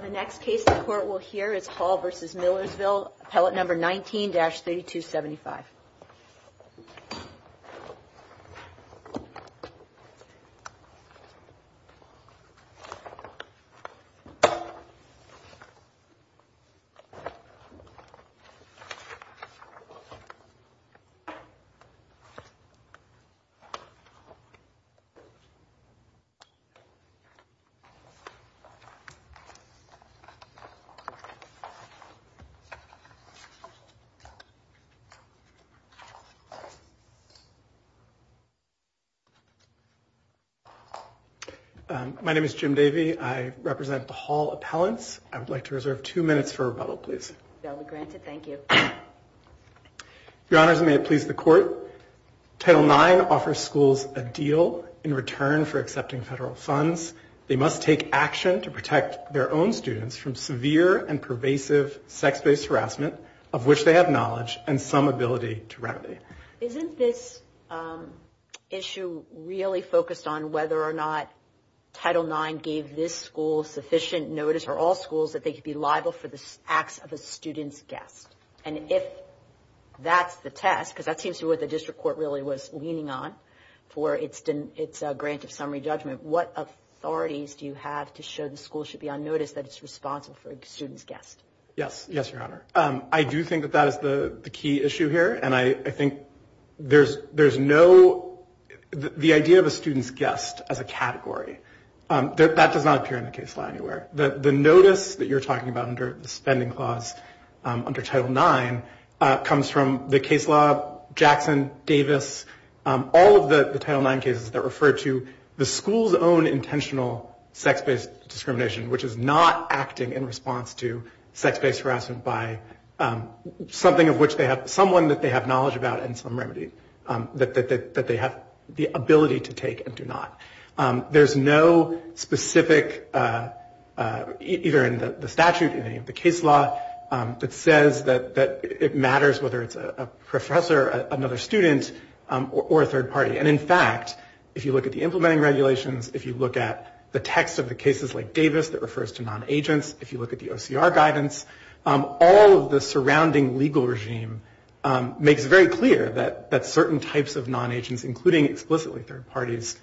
The next case the court will hear is Hall v. Millersville, Appellate No. 19-3275. My name is Jim Davey. I represent the Hall Appellants. I would like to reserve two minutes for rebuttal, please. That will be granted. Thank you. Your Honors, may it please the Court. Title IX offers schools a deal in return for accepting federal funds. They must take action to protect their own students from severe and pervasive sex-based harassment, of which they have knowledge and some ability to remedy. Isn't this issue really focused on whether or not Title IX gave this school sufficient notice for all schools that they could be liable for the acts of a student's guest? And if that's the test, because that seems to be what the district court really was leaning on for its grant of summary judgment, what authorities do you have to show the school should be on notice that it's responsible for a student's guest? Yes. Yes, Your Honor. I do think that that is the key issue here, and I think there's no – the idea of a student's guest as a category, that does not appear in the case law anywhere. The notice that you're talking about under the spending clause under Title IX comes from the case law, Jackson, Davis, all of the Title IX cases that refer to the school's own intentional sex-based discrimination, which is not acting in response to sex-based harassment by something of which they have – someone that they have knowledge about and some remedy that they have the ability to take and do not. There's no specific, either in the statute or in any of the case law, that says that it matters whether it's a professor, another student, or a third party. And in fact, if you look at the implementing regulations, if you look at the text of the cases like Davis that refers to non-agents, if you look at the OCR guidance, all of the surrounding legal regime makes very clear that certain types of non-agents, including explicitly third parties,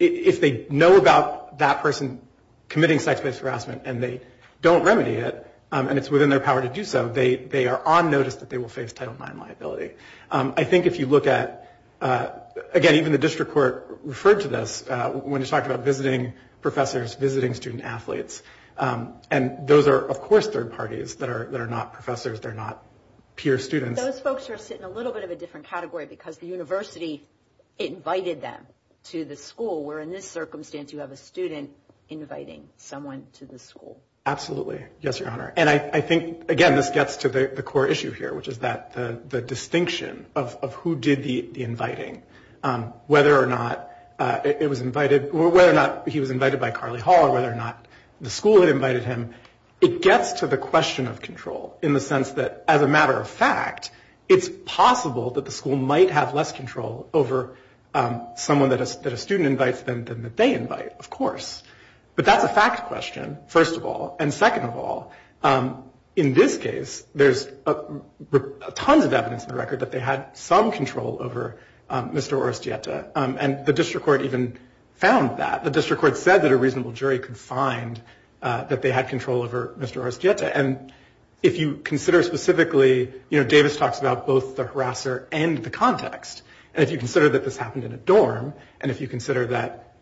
if they know about that person committing sex-based harassment and they don't remedy it, and it's within their power to do so, they are on notice that they will face Title IX liability. I think if you look at – again, even the district court referred to this when it talked about visiting professors, visiting student athletes. And those are, of course, third parties that are not professors, they're not peer students. Those folks are sitting in a little bit of a different category because the university invited them to the school, where in this circumstance you have a student inviting someone to the school. Absolutely. Yes, Your Honor. And I think, again, this gets to the core issue here, which is the distinction of who did the inviting, whether or not he was invited by Carly Hall or whether or not the school had invited him. It gets to the question of control in the sense that, as a matter of fact, it's possible that the school might have less control over someone that a student invites than they invite, of course. But that's a fact question, first of all. And second of all, in this case, there's tons of evidence in the record that they had some control over Mr. Orestieta. And the district court even found that. The district court said that a reasonable jury could find that they had control over Mr. Orestieta. And if you consider specifically – you know, Davis talks about both the harasser and the context. And if you consider that this happened in a dorm, and if you consider that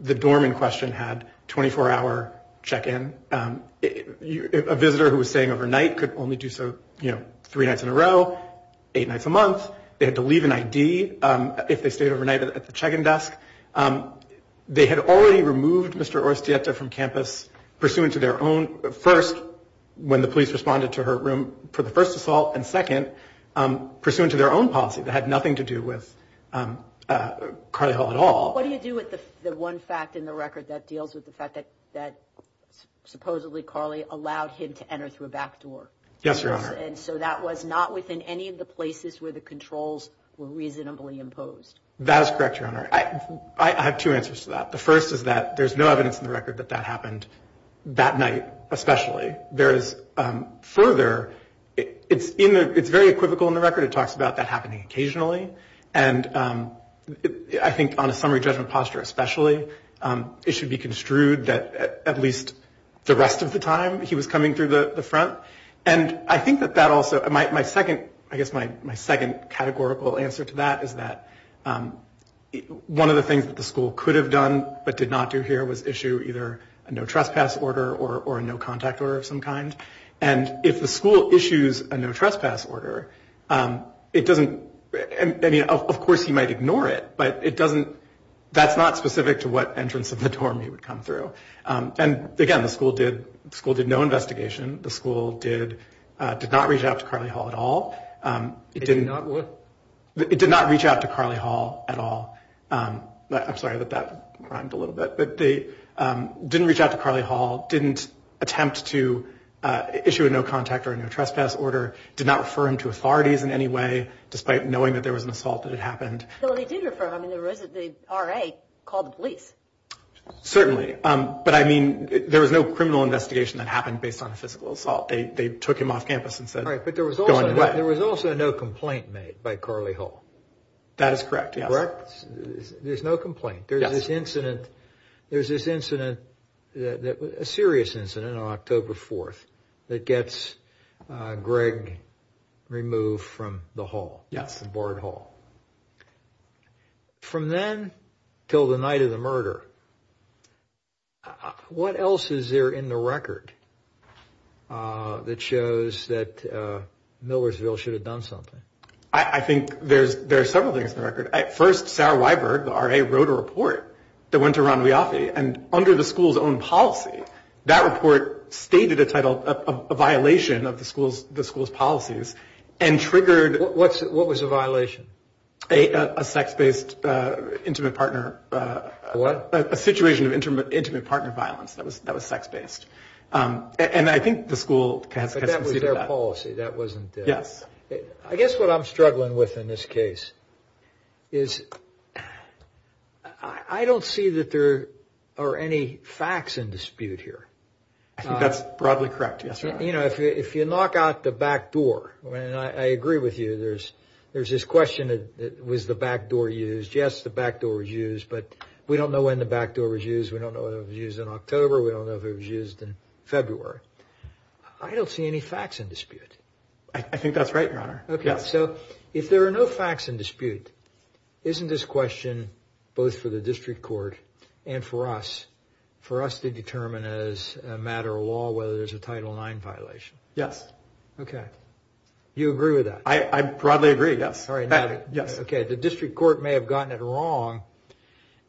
the dorm in question had 24-hour check-in, a visitor who was staying overnight could only do so three nights in a row, eight nights a month. They had to leave an ID if they stayed overnight at the check-in desk. They had already removed Mr. Orestieta from campus pursuant to their own – first, when the police responded to her room for the first assault, and second, pursuant to their own policy that had nothing to do with Carly Hall at all. What do you do with the one fact in the record that deals with the fact that supposedly Carly allowed him to enter through a back door? Yes, Your Honor. And so that was not within any of the places where the controls were reasonably imposed. That is correct, Your Honor. I have two answers to that. The first is that there's no evidence in the record that that happened that night especially. Further, it's very equivocal in the record. It talks about that happening occasionally. And I think on a summary judgment posture especially, it should be construed that at least the rest of the time he was coming through the front. And I think that that also – I guess my second categorical answer to that is that one of the things that the school could have done but did not do here was issue either a no-trespass order or a no-contact order of some kind. And if the school issues a no-trespass order, it doesn't – I mean, of course he might ignore it, but it doesn't – that's not specific to what entrance of the dorm he would come through. And, again, the school did no investigation. The school did not reach out to Carly Hall at all. It did not what? It did not reach out to Carly Hall at all. I'm sorry that that rhymed a little bit. But they didn't reach out to Carly Hall, didn't attempt to issue a no-contact or a no-trespass order, did not refer him to authorities in any way despite knowing that there was an assault that had happened. Well, they did refer him. I mean, the RA called the police. Certainly. But, I mean, there was no criminal investigation that happened based on a physical assault. They took him off campus and said go anyway. Right, but there was also no complaint made by Carly Hall. That is correct, yes. That is correct? There's no complaint? Yes. There's this incident, a serious incident on October 4th that gets Greg removed from the hall, the board hall. From then till the night of the murder, what else is there in the record that shows that Millersville should have done something? I think there are several things in the record. First, Sarah Weyberg, the RA, wrote a report that went to Ron Weoffe. And under the school's own policy, that report stated a violation of the school's policies and triggered What was the violation? A sex-based intimate partner What? A situation of intimate partner violence that was sex-based. And I think the school has conceded that. But that was their policy. That wasn't theirs. I guess what I'm struggling with in this case is I don't see that there are any facts in dispute here. I think that's broadly correct, yes, sir. You know, if you knock out the back door, and I agree with you, there's this question, was the back door used? Yes, the back door was used, but we don't know when the back door was used. We don't know if it was used in October. We don't know if it was used in February. I don't see any facts in dispute. I think that's right, Your Honor. Okay, so if there are no facts in dispute, isn't this question both for the district court and for us, for us to determine as a matter of law whether there's a Title IX violation? Yes. Okay. You agree with that? I broadly agree, yes. Okay, the district court may have gotten it wrong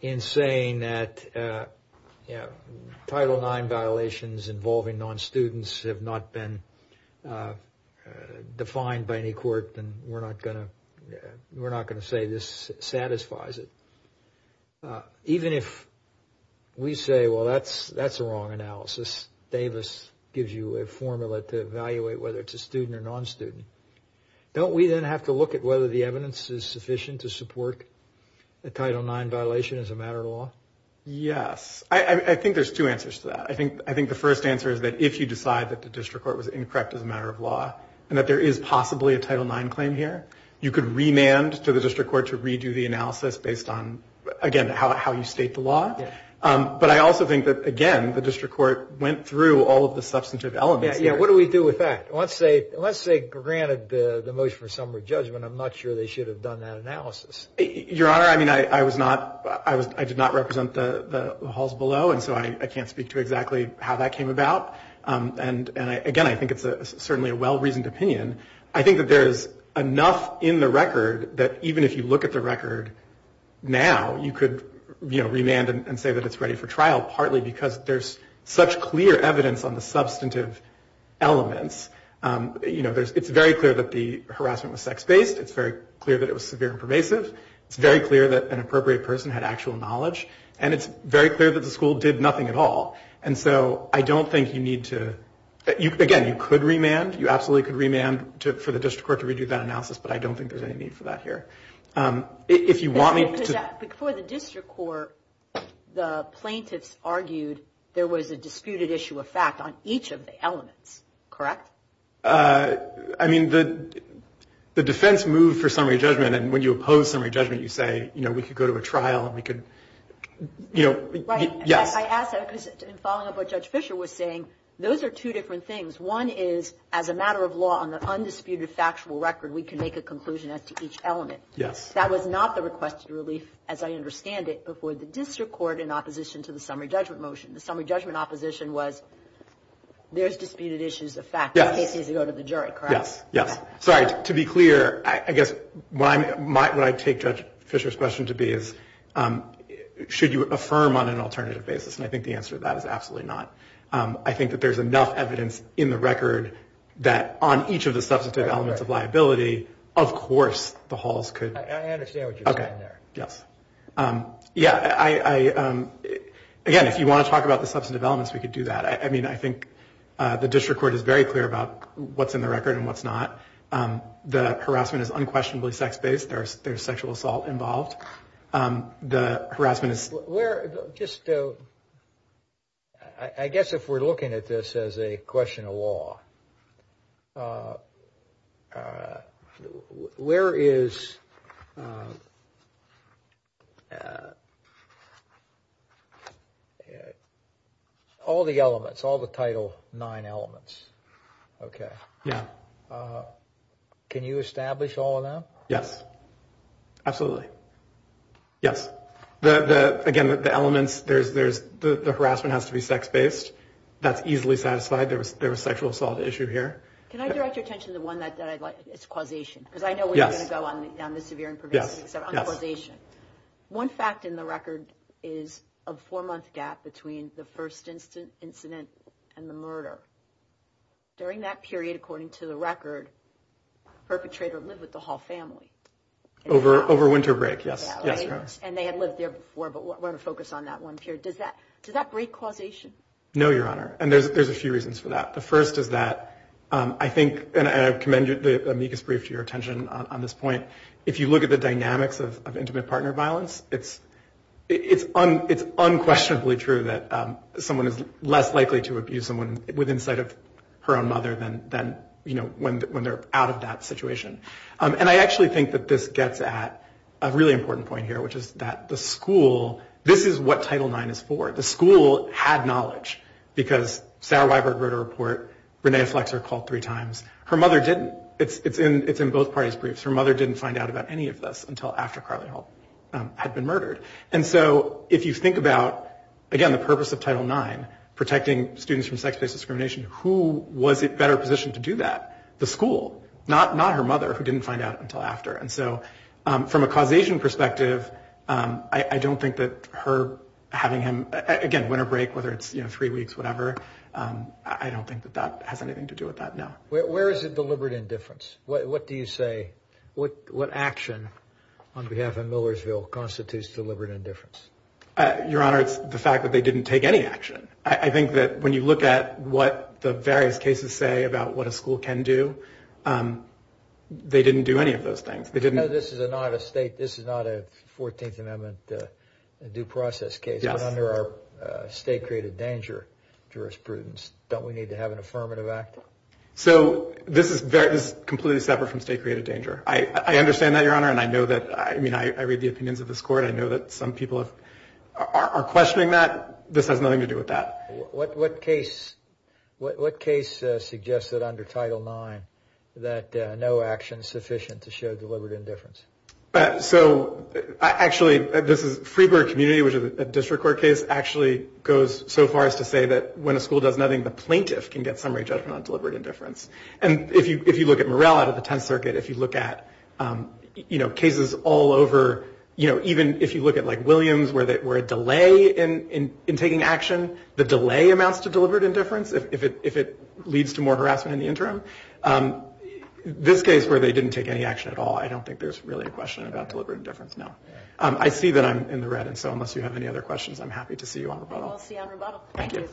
in saying that, you know, defined by any court, then we're not going to say this satisfies it. Even if we say, well, that's a wrong analysis, Davis gives you a formula to evaluate whether it's a student or non-student, don't we then have to look at whether the evidence is sufficient to support a Title IX violation as a matter of law? Yes. I think there's two answers to that. I think the first answer is that if you decide that the district court was incorrect as a matter of law and that there is possibly a Title IX claim here, you could remand to the district court to redo the analysis based on, again, how you state the law. But I also think that, again, the district court went through all of the substantive elements. Yeah, what do we do with that? Let's say granted the motion for summary judgment, I'm not sure they should have done that analysis. Your Honor, I mean, I was not, I did not represent the halls below, and so I can't speak to exactly how that came about. And, again, I think it's certainly a well-reasoned opinion. I think that there is enough in the record that even if you look at the record now, you could, you know, remand and say that it's ready for trial, partly because there's such clear evidence on the substantive elements. You know, it's very clear that the harassment was sex-based. It's very clear that it was severe and pervasive. It's very clear that an appropriate person had actual knowledge. And it's very clear that the school did nothing at all. And so I don't think you need to, again, you could remand. You absolutely could remand for the district court to redo that analysis, but I don't think there's any need for that here. If you want me to. Before the district court, the plaintiffs argued there was a disputed issue of fact on each of the elements, correct? I mean, the defense moved for summary judgment, and when you oppose summary judgment, you say, you know, we could go to a trial and we could, you know, yes. Right. I asked that because in following up what Judge Fisher was saying, those are two different things. One is, as a matter of law, on the undisputed factual record, we can make a conclusion as to each element. Yes. That was not the requested relief, as I understand it, before the district court in opposition to the summary judgment motion. The summary judgment opposition was there's disputed issues of fact. The case needs to go to the jury, correct? Yes, yes. Sorry, to be clear, I guess what I take Judge Fisher's question to be is, should you affirm on an alternative basis? And I think the answer to that is absolutely not. I think that there's enough evidence in the record that on each of the substantive elements of liability, of course the halls could. I understand what you're saying there. Okay. Yes. Yeah, I, again, if you want to talk about the substantive elements, we could do that. I mean, I think the district court is very clear about what's in the record and what's not. The harassment is unquestionably sex-based. There's sexual assault involved. The harassment is. I guess if we're looking at this as a question of law, where is all the elements, all the Title IX elements? Okay. Yeah. Can you establish all of them? Yes. Absolutely. Okay. Yes. The, again, the elements, there's, the harassment has to be sex-based. That's easily satisfied. There was sexual assault issue here. Can I direct your attention to one that I'd like? It's causation. Yes. Because I know we're going to go on the severe and pervasive. Yes. On causation. One fact in the record is a four-month gap between the first incident and the murder. During that period, according to the record, perpetrator lived with the Hall family. Over winter break. Yes. And they had lived there before, but we're going to focus on that one period. Does that break causation? No, Your Honor. And there's a few reasons for that. The first is that I think, and I commend the amicus brief to your attention on this point. If you look at the dynamics of intimate partner violence, it's unquestionably true that someone is less likely to abuse someone with insight of her own mother than, you know, when they're out of that situation. And I actually think that this gets at a really important point here, which is that the school, this is what Title IX is for. The school had knowledge. Because Sarah Weiberg wrote a report. Renea Flexer called three times. Her mother didn't. It's in both parties' briefs. Her mother didn't find out about any of this until after Carly Hall had been murdered. And so if you think about, again, the purpose of Title IX, protecting students from sex-based discrimination, who was better positioned to do that? The school. Not her mother, who didn't find out until after. And so from a causation perspective, I don't think that her having him, again, winter break, whether it's three weeks, whatever, I don't think that that has anything to do with that, no. Where is the deliberate indifference? What do you say, what action on behalf of Millersville constitutes deliberate indifference? Your Honor, it's the fact that they didn't take any action. I think that when you look at what the various cases say about what a school can do, they didn't do any of those things. No, this is not a State, this is not a 14th Amendment due process case. But under our State-created danger jurisprudence, don't we need to have an affirmative act? So this is completely separate from State-created danger. I understand that, Your Honor, and I know that. I mean, I read the opinions of this Court. I know that some people are questioning that. This has nothing to do with that. What case suggests that under Title IX that no action is sufficient to show deliberate indifference? So actually, this is Freeburg Community, which is a district court case, actually goes so far as to say that when a school does nothing, the plaintiff can get summary judgment on deliberate indifference. And if you look at Morrell out of the Tenth Circuit, if you look at cases all over, even if you look at Williams where there were a delay in taking action, the delay amounts to deliberate indifference if it leads to more harassment in the interim. This case where they didn't take any action at all, I don't think there's really a question about deliberate indifference, no. I see that I'm in the red, and so unless you have any other questions, I'm happy to see you on rebuttal. We'll see you on rebuttal. Thank you.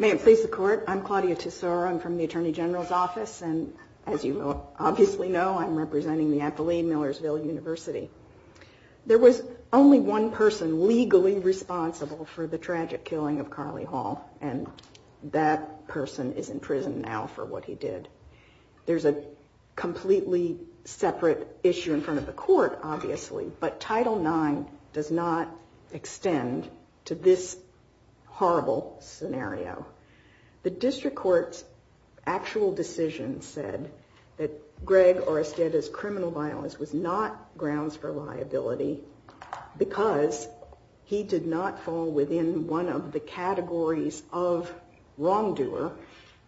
May it please the Court. I'm Claudia Tesoro. I'm from the Attorney General's Office, and as you obviously know, I'm representing the Athelene Millersville University. There was only one person legally responsible for the tragic killing of Carly Hall, and that person is in prison now for what he did. There's a completely separate issue in front of the Court, obviously, but Title IX does not extend to this horrible scenario. The District Court's actual decision said that Greg Oresteda's criminal violence was not grounds for liability because he did not fall within one of the categories of wrongdoer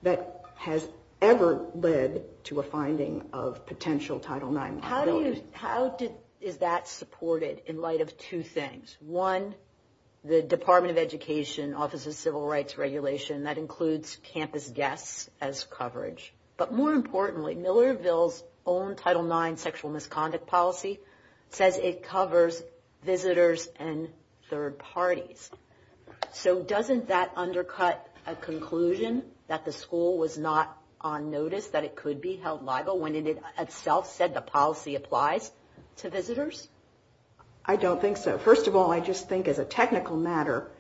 that has ever led to a finding of potential Title IX liability. How is that supported in light of two things? One, the Department of Education Office of Civil Rights regulation, that includes campus guests as coverage, but more importantly, Millersville's own Title IX sexual misconduct policy says it covers visitors and third parties. So doesn't that undercut a conclusion that the school was not on notice that it could be held liable when it itself said the policy applies to visitors? I don't think so. First of all, I just think as a technical matter,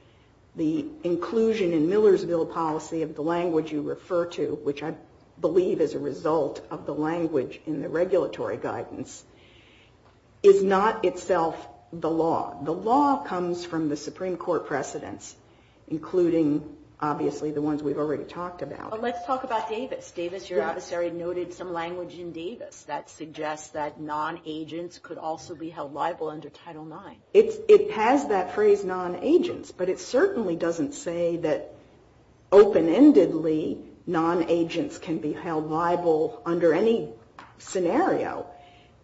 the inclusion in Millersville policy of the language you refer to, which I believe is a result of the language in the regulatory guidance, is not itself the law. The law comes from the Supreme Court precedents, including, obviously, the ones we've already talked about. But let's talk about Davis. Davis, your adversary, noted some language in Davis that suggests that non-agents could also be held liable under Title IX. It has that phrase non-agents, but it certainly doesn't say that open-endedly non-agents can be held liable under any scenario.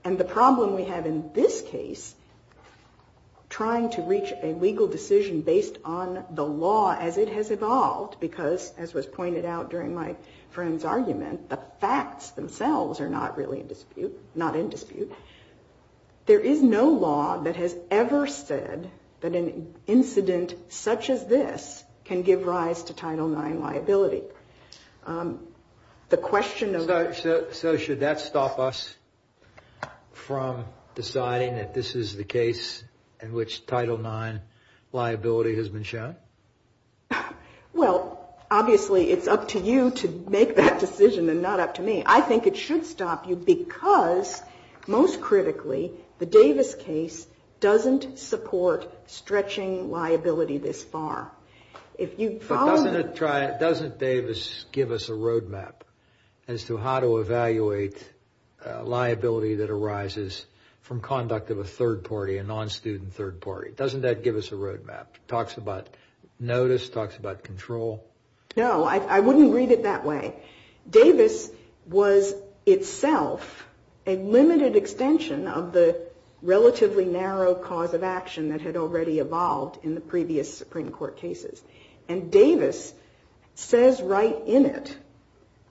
And the problem we have in this case, trying to reach a legal decision based on the law as it has evolved, because as was pointed out during my friend's argument, the facts themselves are not really in dispute, not in dispute. There is no law that has ever said that an incident such as this can give rise to Title IX liability. The question of- So should that stop us from deciding that this is the case in which Title IX liability has been shown? Well, obviously, it's up to you to make that decision and not up to me. I think it should stop you because, most critically, the Davis case doesn't support stretching liability this far. If you follow- But doesn't Davis give us a road map as to how to evaluate liability that arises from conduct of a third party, a non-student third party? Doesn't that give us a road map? Talks about notice, talks about control? No, I wouldn't read it that way. Davis was itself a limited extension of the relatively narrow cause of action that had already evolved in the previous Supreme Court cases. And Davis says right in it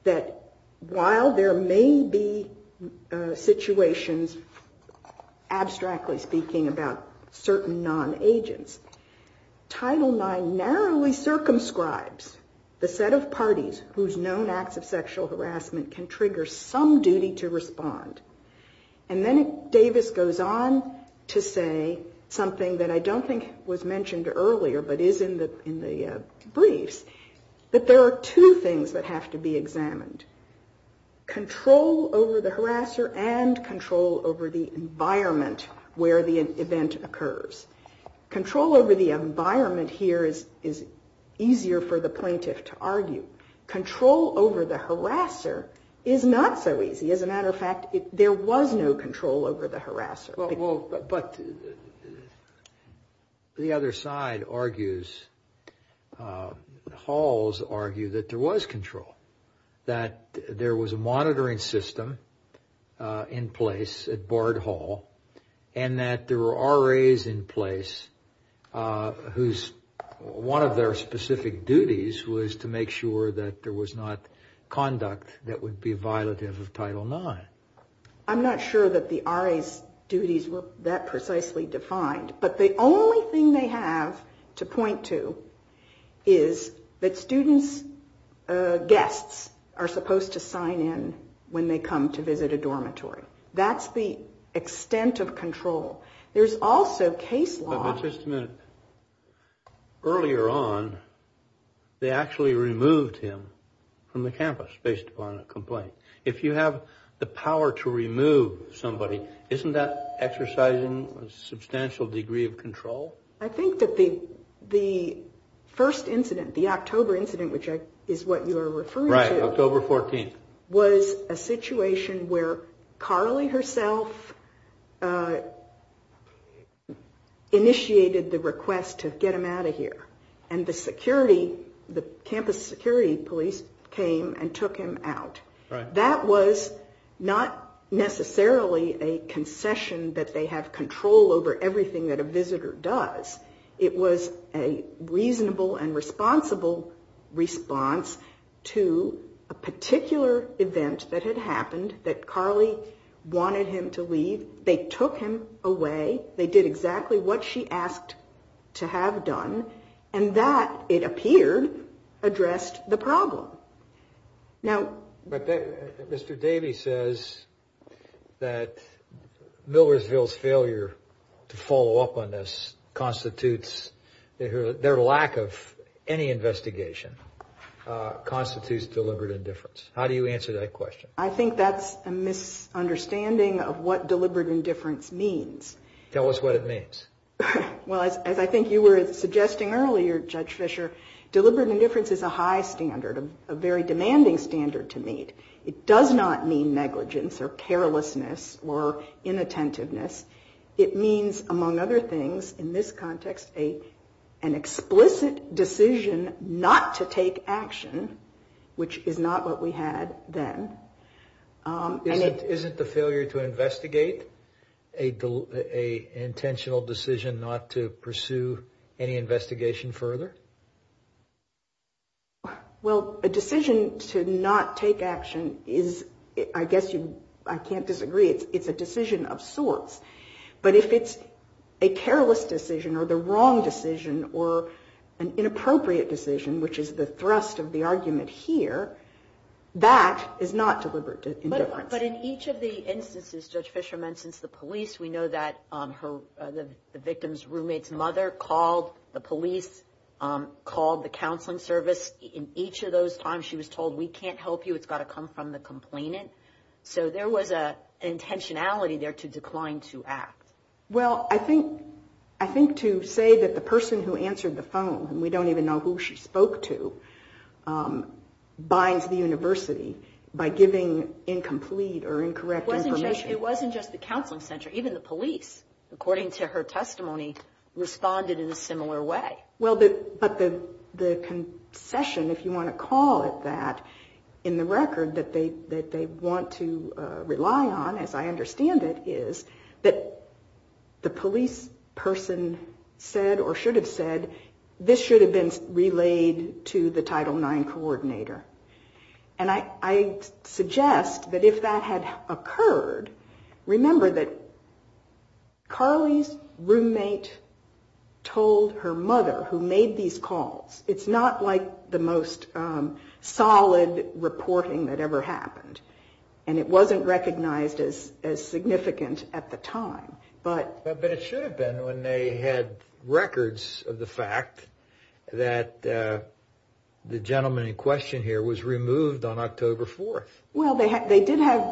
that while there may be situations, abstractly speaking, about certain non-agents, Title IX narrowly circumscribes the set of parties whose known acts of sexual harassment can trigger some duty to respond. And then Davis goes on to say something that I don't think was mentioned earlier but is in the briefs, that there are two things that have to be examined, control over the harasser and control over the environment where the event occurs. Control over the environment here is easier for the plaintiff to argue. Control over the harasser is not so easy. As a matter of fact, there was no control over the harasser. But the other side argues, halls argue that there was control, that there was a monitoring system in place at Bard Hall, and that there were RAs in place whose one of their specific duties was to make sure that there was not conduct that would be violative of Title IX. I'm not sure that the RA's duties were that precisely defined. But the only thing they have to point to is that students' guests are supposed to sign in when they come to visit a dormitory. That's the extent of control. There's also case law. But just a minute. Earlier on, they actually removed him from the campus based upon a complaint. If you have the power to remove somebody, isn't that exercising a substantial degree of control? I think that the first incident, the October incident, which is what you're referring to. Right, October 14th. Was a situation where Carly herself initiated the request to get him out of here. And the security, the campus security police came and took him out. That was not necessarily a concession that they have control over everything that a visitor does. It was a reasonable and responsible response to a particular event that had happened that Carly wanted him to leave. They took him away. They did exactly what she asked to have done. And that, it appeared, addressed the problem. But Mr. Davey says that Millersville's failure to follow up on this constitutes their lack of any investigation. Constitutes deliberate indifference. How do you answer that question? I think that's a misunderstanding of what deliberate indifference means. Tell us what it means. Well, as I think you were suggesting earlier, Judge Fischer, deliberate indifference is a high standard, a very demanding standard to meet. It does not mean negligence or carelessness or inattentiveness. It means, among other things, in this context, an explicit decision not to take action, which is not what we had then. Isn't the failure to investigate an intentional decision not to pursue any investigation further? Well, a decision to not take action is, I guess you, I can't disagree. It's a decision of sorts. But if it's a careless decision or the wrong decision or an inappropriate decision, which is the thrust of the argument here, that is not deliberate indifference. But in each of the instances Judge Fischer mentions the police, we know that the victim's roommate's mother called the police, called the counseling service. In each of those times she was told, we can't help you, it's got to come from the complainant. So there was an intentionality there to decline to act. Well, I think to say that the person who answered the phone, and we don't even know who she spoke to, binds the university by giving incomplete or incorrect information. It wasn't just the counseling center. Even the police, according to her testimony, responded in a similar way. Well, but the concession, if you want to call it that, in the record that they want to rely on, as I understand it, is that the police person said or should have said, this should have been relayed to the Title IX coordinator. And I suggest that if that had occurred, remember that Carly's roommate told her mother who made these calls. It's not like the most solid reporting that ever happened. And it wasn't recognized as significant at the time. But it should have been when they had records of the fact that the gentleman in question here was removed on October 4th. Well, they did have,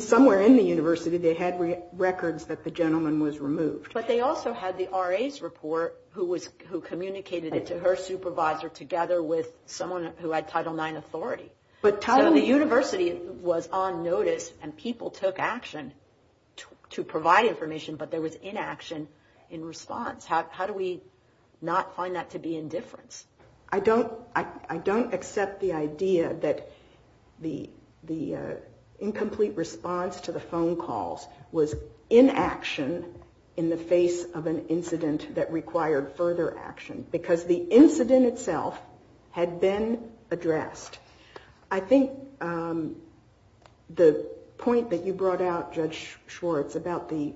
somewhere in the university, they had records that the gentleman was removed. But they also had the RA's report who communicated it to her supervisor together with someone who had Title IX authority. So the university was on notice and people took action to provide information, but there was inaction in response. How do we not find that to be indifference? I don't accept the idea that the incomplete response to the phone calls was inaction in the face of an incident that required further action. Because the incident itself had been addressed. I think the point that you brought out, Judge Schwartz, about the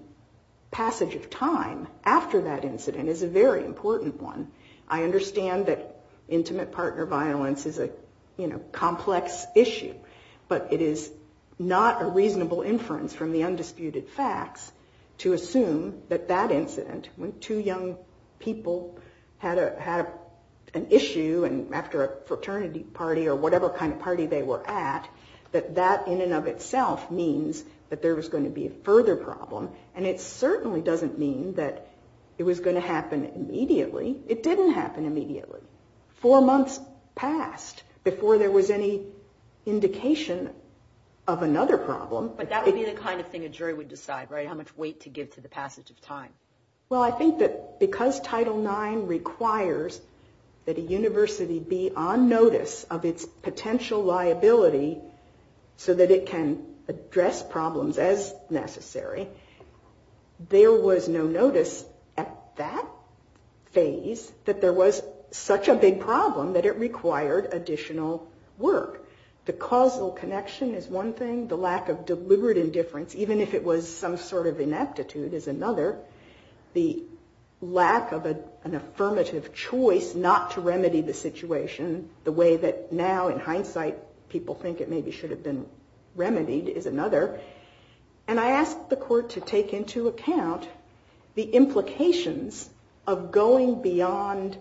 passage of time after that incident is a very important one. I understand that intimate partner violence is a, you know, complex issue. But it is not a reasonable inference from the undisputed facts to assume that that incident, when two young people had an issue after a fraternity party or whatever kind of party they were at, that that in and of itself means that there was going to be a further problem. And it certainly doesn't mean that it was going to happen immediately. It didn't happen immediately. Four months passed before there was any indication of another problem. But that would be the kind of thing a jury would decide, right, how much weight to give to the passage of time. Well, I think that because Title IX requires that a university be on notice of its potential liability so that it can address problems as necessary, there was no notice at that phase that there was such a big problem that it required additional work. The causal connection is one thing. The lack of deliberate indifference, even if it was some sort of ineptitude, is another. The lack of an affirmative choice not to remedy the situation the way that now in hindsight people think it maybe should have been remedied is another. And I ask the Court to take into account the implications of going beyond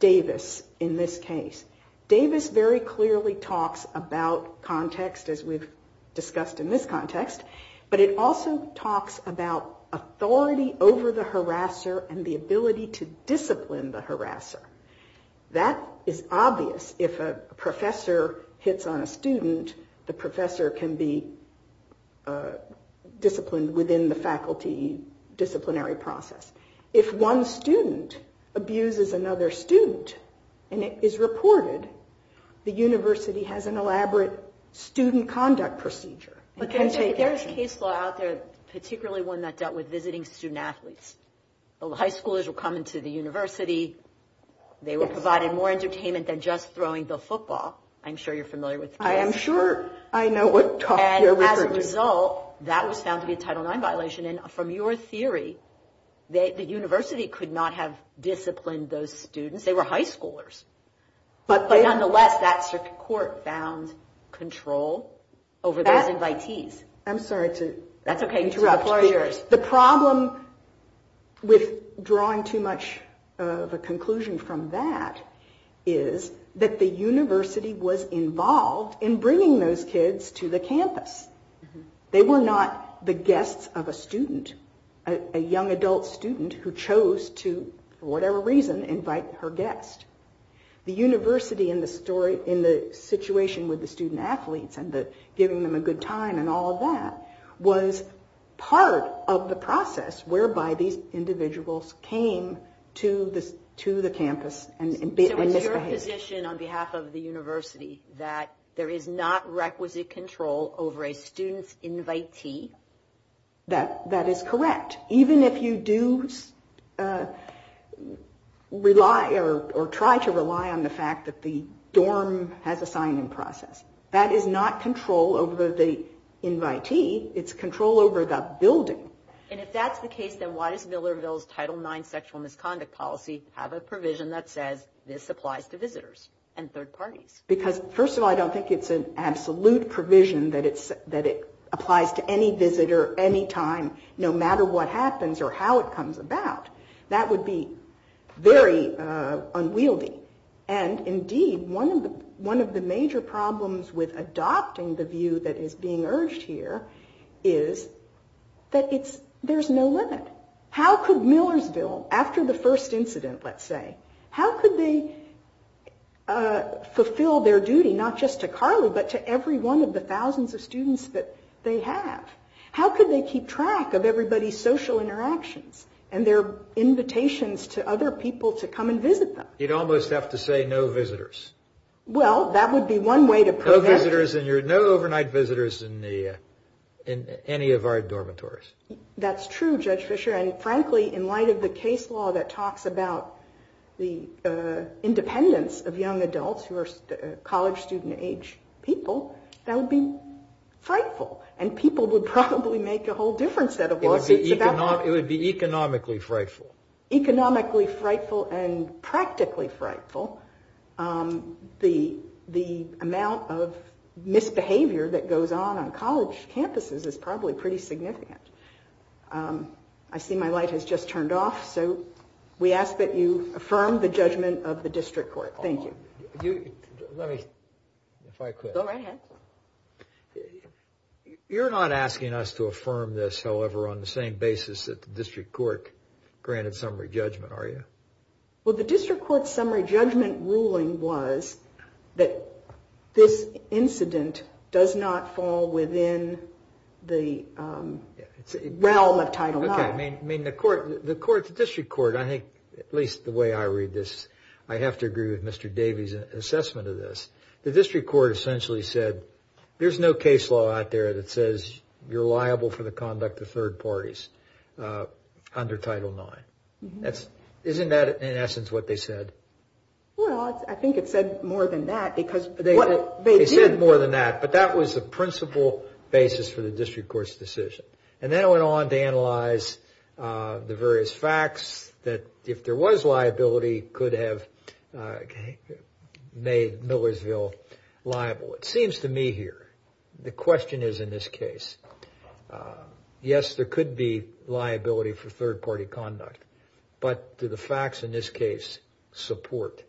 Davis in this case. Davis very clearly talks about context, as we've discussed in this context, but it also talks about authority over the harasser and the ability to discipline the harasser. That is obvious. If a professor hits on a student, the professor can be disciplined within the faculty disciplinary process. If one student abuses another student and it is reported, the university has an elaborate student conduct procedure and can take action. But there's case law out there, particularly one that dealt with visiting student athletes. The high schoolers would come into the university, they were provided more entertainment than just throwing the football. I'm sure you're familiar with the case. And as a result, that was found to be a Title IX violation. And from your theory, the university could not have disciplined those students. They were high schoolers. But nonetheless, that circuit court found control over those invitees. I'm sorry to interrupt. The problem with drawing too much of a conclusion from that is that the university was involved in bringing those kids to the campus. They were not the guests of a student, a young adult student who chose to, for whatever reason, invite her guest. The university in the story, in the situation with the student athletes and giving them a good time and all of that, was partly part of the process whereby these individuals came to the campus and misbehaved. So it's your position on behalf of the university that there is not requisite control over a student's invitee? That is correct. Even if you do rely or try to rely on the fact that the dorm has a sign-in process. That is not control over the invitee. It's control over the building. And if that's the case, then why does Millerville's Title IX sexual misconduct policy have a provision that says this applies to visitors and third parties? Because, first of all, I don't think it's an absolute provision that it applies to any visitor, any time, no matter what happens or how it comes about. That would be very unwieldy. The problem with adopting the view that is being urged here is that there's no limit. How could Millersville, after the first incident, let's say, how could they fulfill their duty, not just to Carly, but to every one of the thousands of students that they have? How could they keep track of everybody's social interactions and their invitations to other people to come and visit them? You'd almost have to say no visitors. That's true, Judge Fischer. And frankly, in light of the case law that talks about the independence of young adults who are college student age people, that would be frightful. And people would probably make a whole different set of lawsuits about that. That would be terribly frightful. The amount of misbehavior that goes on on college campuses is probably pretty significant. I see my light has just turned off, so we ask that you affirm the judgment of the District Court. Thank you. You're not asking us to affirm this, however, on the same basis that the District Court granted summary judgment, are you? Well, the District Court's summary judgment ruling was that this incident does not fall within the realm of Title IX. Okay. I mean, the court, the District Court, I think, at least the way I read this, I have to agree with Mr. Davies' assessment of this. The District Court essentially said, there's no case law out there that says you're liable for the conduct of third parties under Title IX. Isn't that, in essence, what they said? Well, I think it said more than that, because what they did... They said more than that, but that was the principal basis for the District Court's decision. And then it went on to analyze the various facts that, if there was liability, could have made Millersville liable. It seems to me here, the question is in this case. Yes, there could be liability for third-party conduct, but do the facts in this case support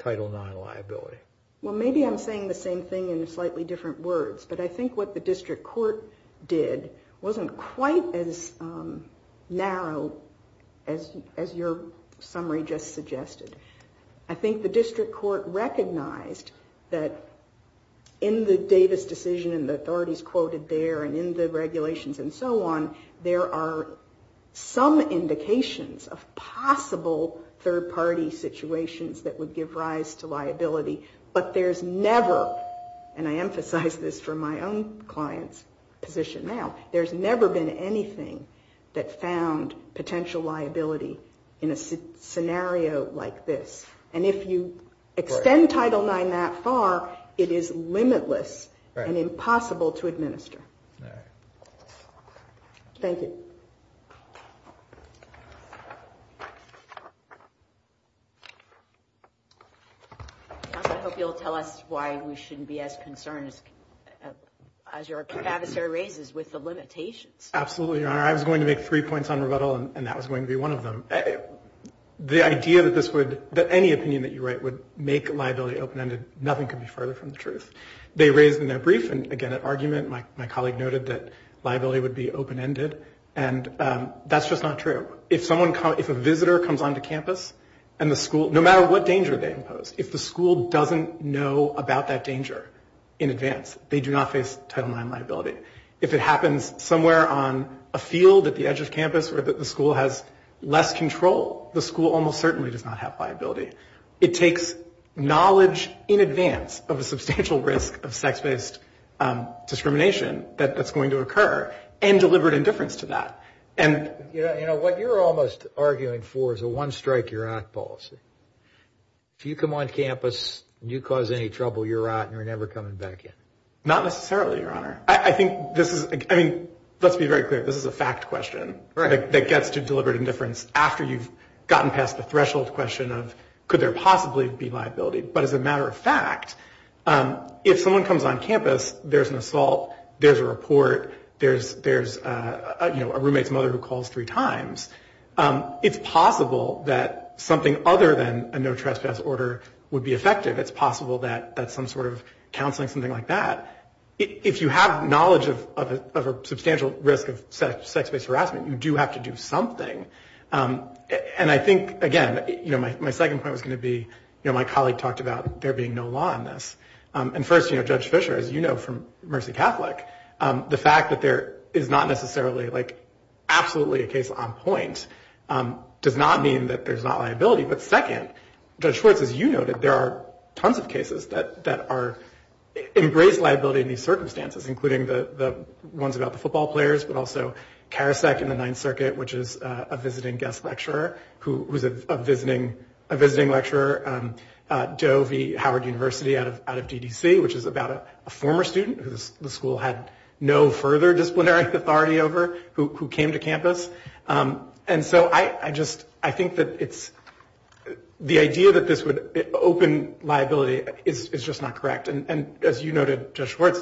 Title IX liability? Well, maybe I'm saying the same thing in slightly different words, but I think what the District Court did wasn't quite as narrow as your summary just suggested. I think the District Court recognized that in the Davies' decision, and the authorities quoted there, there was no liability. And in the regulations and so on, there are some indications of possible third-party situations that would give rise to liability. But there's never, and I emphasize this from my own client's position now, there's never been anything that found potential liability in a scenario like this. And if you extend Title IX that far, it is limitless and impossible to administer. Thank you. I hope you'll tell us why we shouldn't be as concerned as your adversary raises with the limitations. Absolutely, Your Honor. I was going to make three points on rebuttal, and that was going to be one of them. The idea that this would, that any opinion that you write would make liability open-ended, nothing could be further from the truth. They raised in their brief, and again at argument, my colleague noted that liability would be open-ended, and that's just not true. If someone, if a visitor comes onto campus, and the school, no matter what danger they impose, if the school doesn't know about that danger in advance, they do not face Title IX liability. If it happens somewhere on a field at the edge of campus where the school has less control, the school almost certainly does not have liability. It takes knowledge in advance of a substantial risk of sex-based discrimination that's going to occur, and deliberate indifference to that. And, you know, what you're almost arguing for is a one-strike-you're-out policy. If you come on campus and you cause any trouble, you're out and you're never coming back in. Not necessarily, Your Honor. I think this is, I mean, let's be very clear, this is a fact question. That gets to deliberate indifference after you've gotten past the threshold question of could there possibly be liability. But as a matter of fact, if someone comes on campus, there's an assault, there's a report, there's, you know, a roommate's mother who calls three times, it's possible that something other than a no-trespass order would be effective. It's possible that that's some sort of counseling, something like that. If you have knowledge of a substantial risk of sex-based harassment, you do have to do something. And I think, again, you know, my second point was going to be, you know, my colleague talked about there being no law on this. And first, you know, Judge Fischer, as you know from Mercy Catholic, the fact that there is not necessarily, like, absolutely a case on point does not mean that there's not liability. But second, Judge Schwartz, as you noted, there are tons of cases that are embraced liability in these circumstances, including the ones about the football players, but also Karasek in the Ninth Circuit, which is a visiting guest lecturer, who's a visiting lecturer, Doe v. Howard University out of DDC, which is about a former student who the school had no further disciplinary authority over who came to campus. And so I just, I think that it's, the idea that this would open liability is just not correct. And as you noted, Judge Schwartz,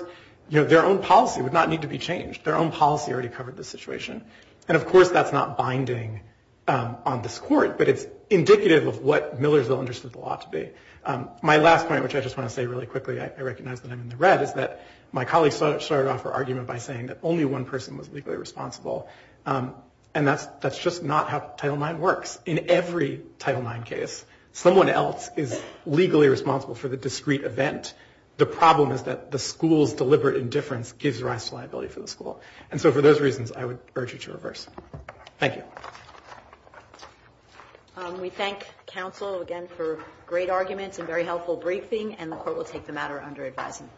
you know, their own policy would not need to be changed. Their own policy already covered the situation. And of course, that's not binding on this Court, but it's indicative of what Millersville understood the law to be. My last point, which I just want to say really quickly, I recognize that I'm in the red, is that my colleague started off her argument by saying that only one person was legally responsible, and that's just not how Title IX works. In every Title IX case, someone else is legally responsible for the discrete event. The problem is that the school's deliberate indifference gives rise to liability for the school. And so for those reasons, I would urge you to reverse. Thank you. We thank counsel again for great arguments and very helpful briefing, and the Court will take the matter under advisement.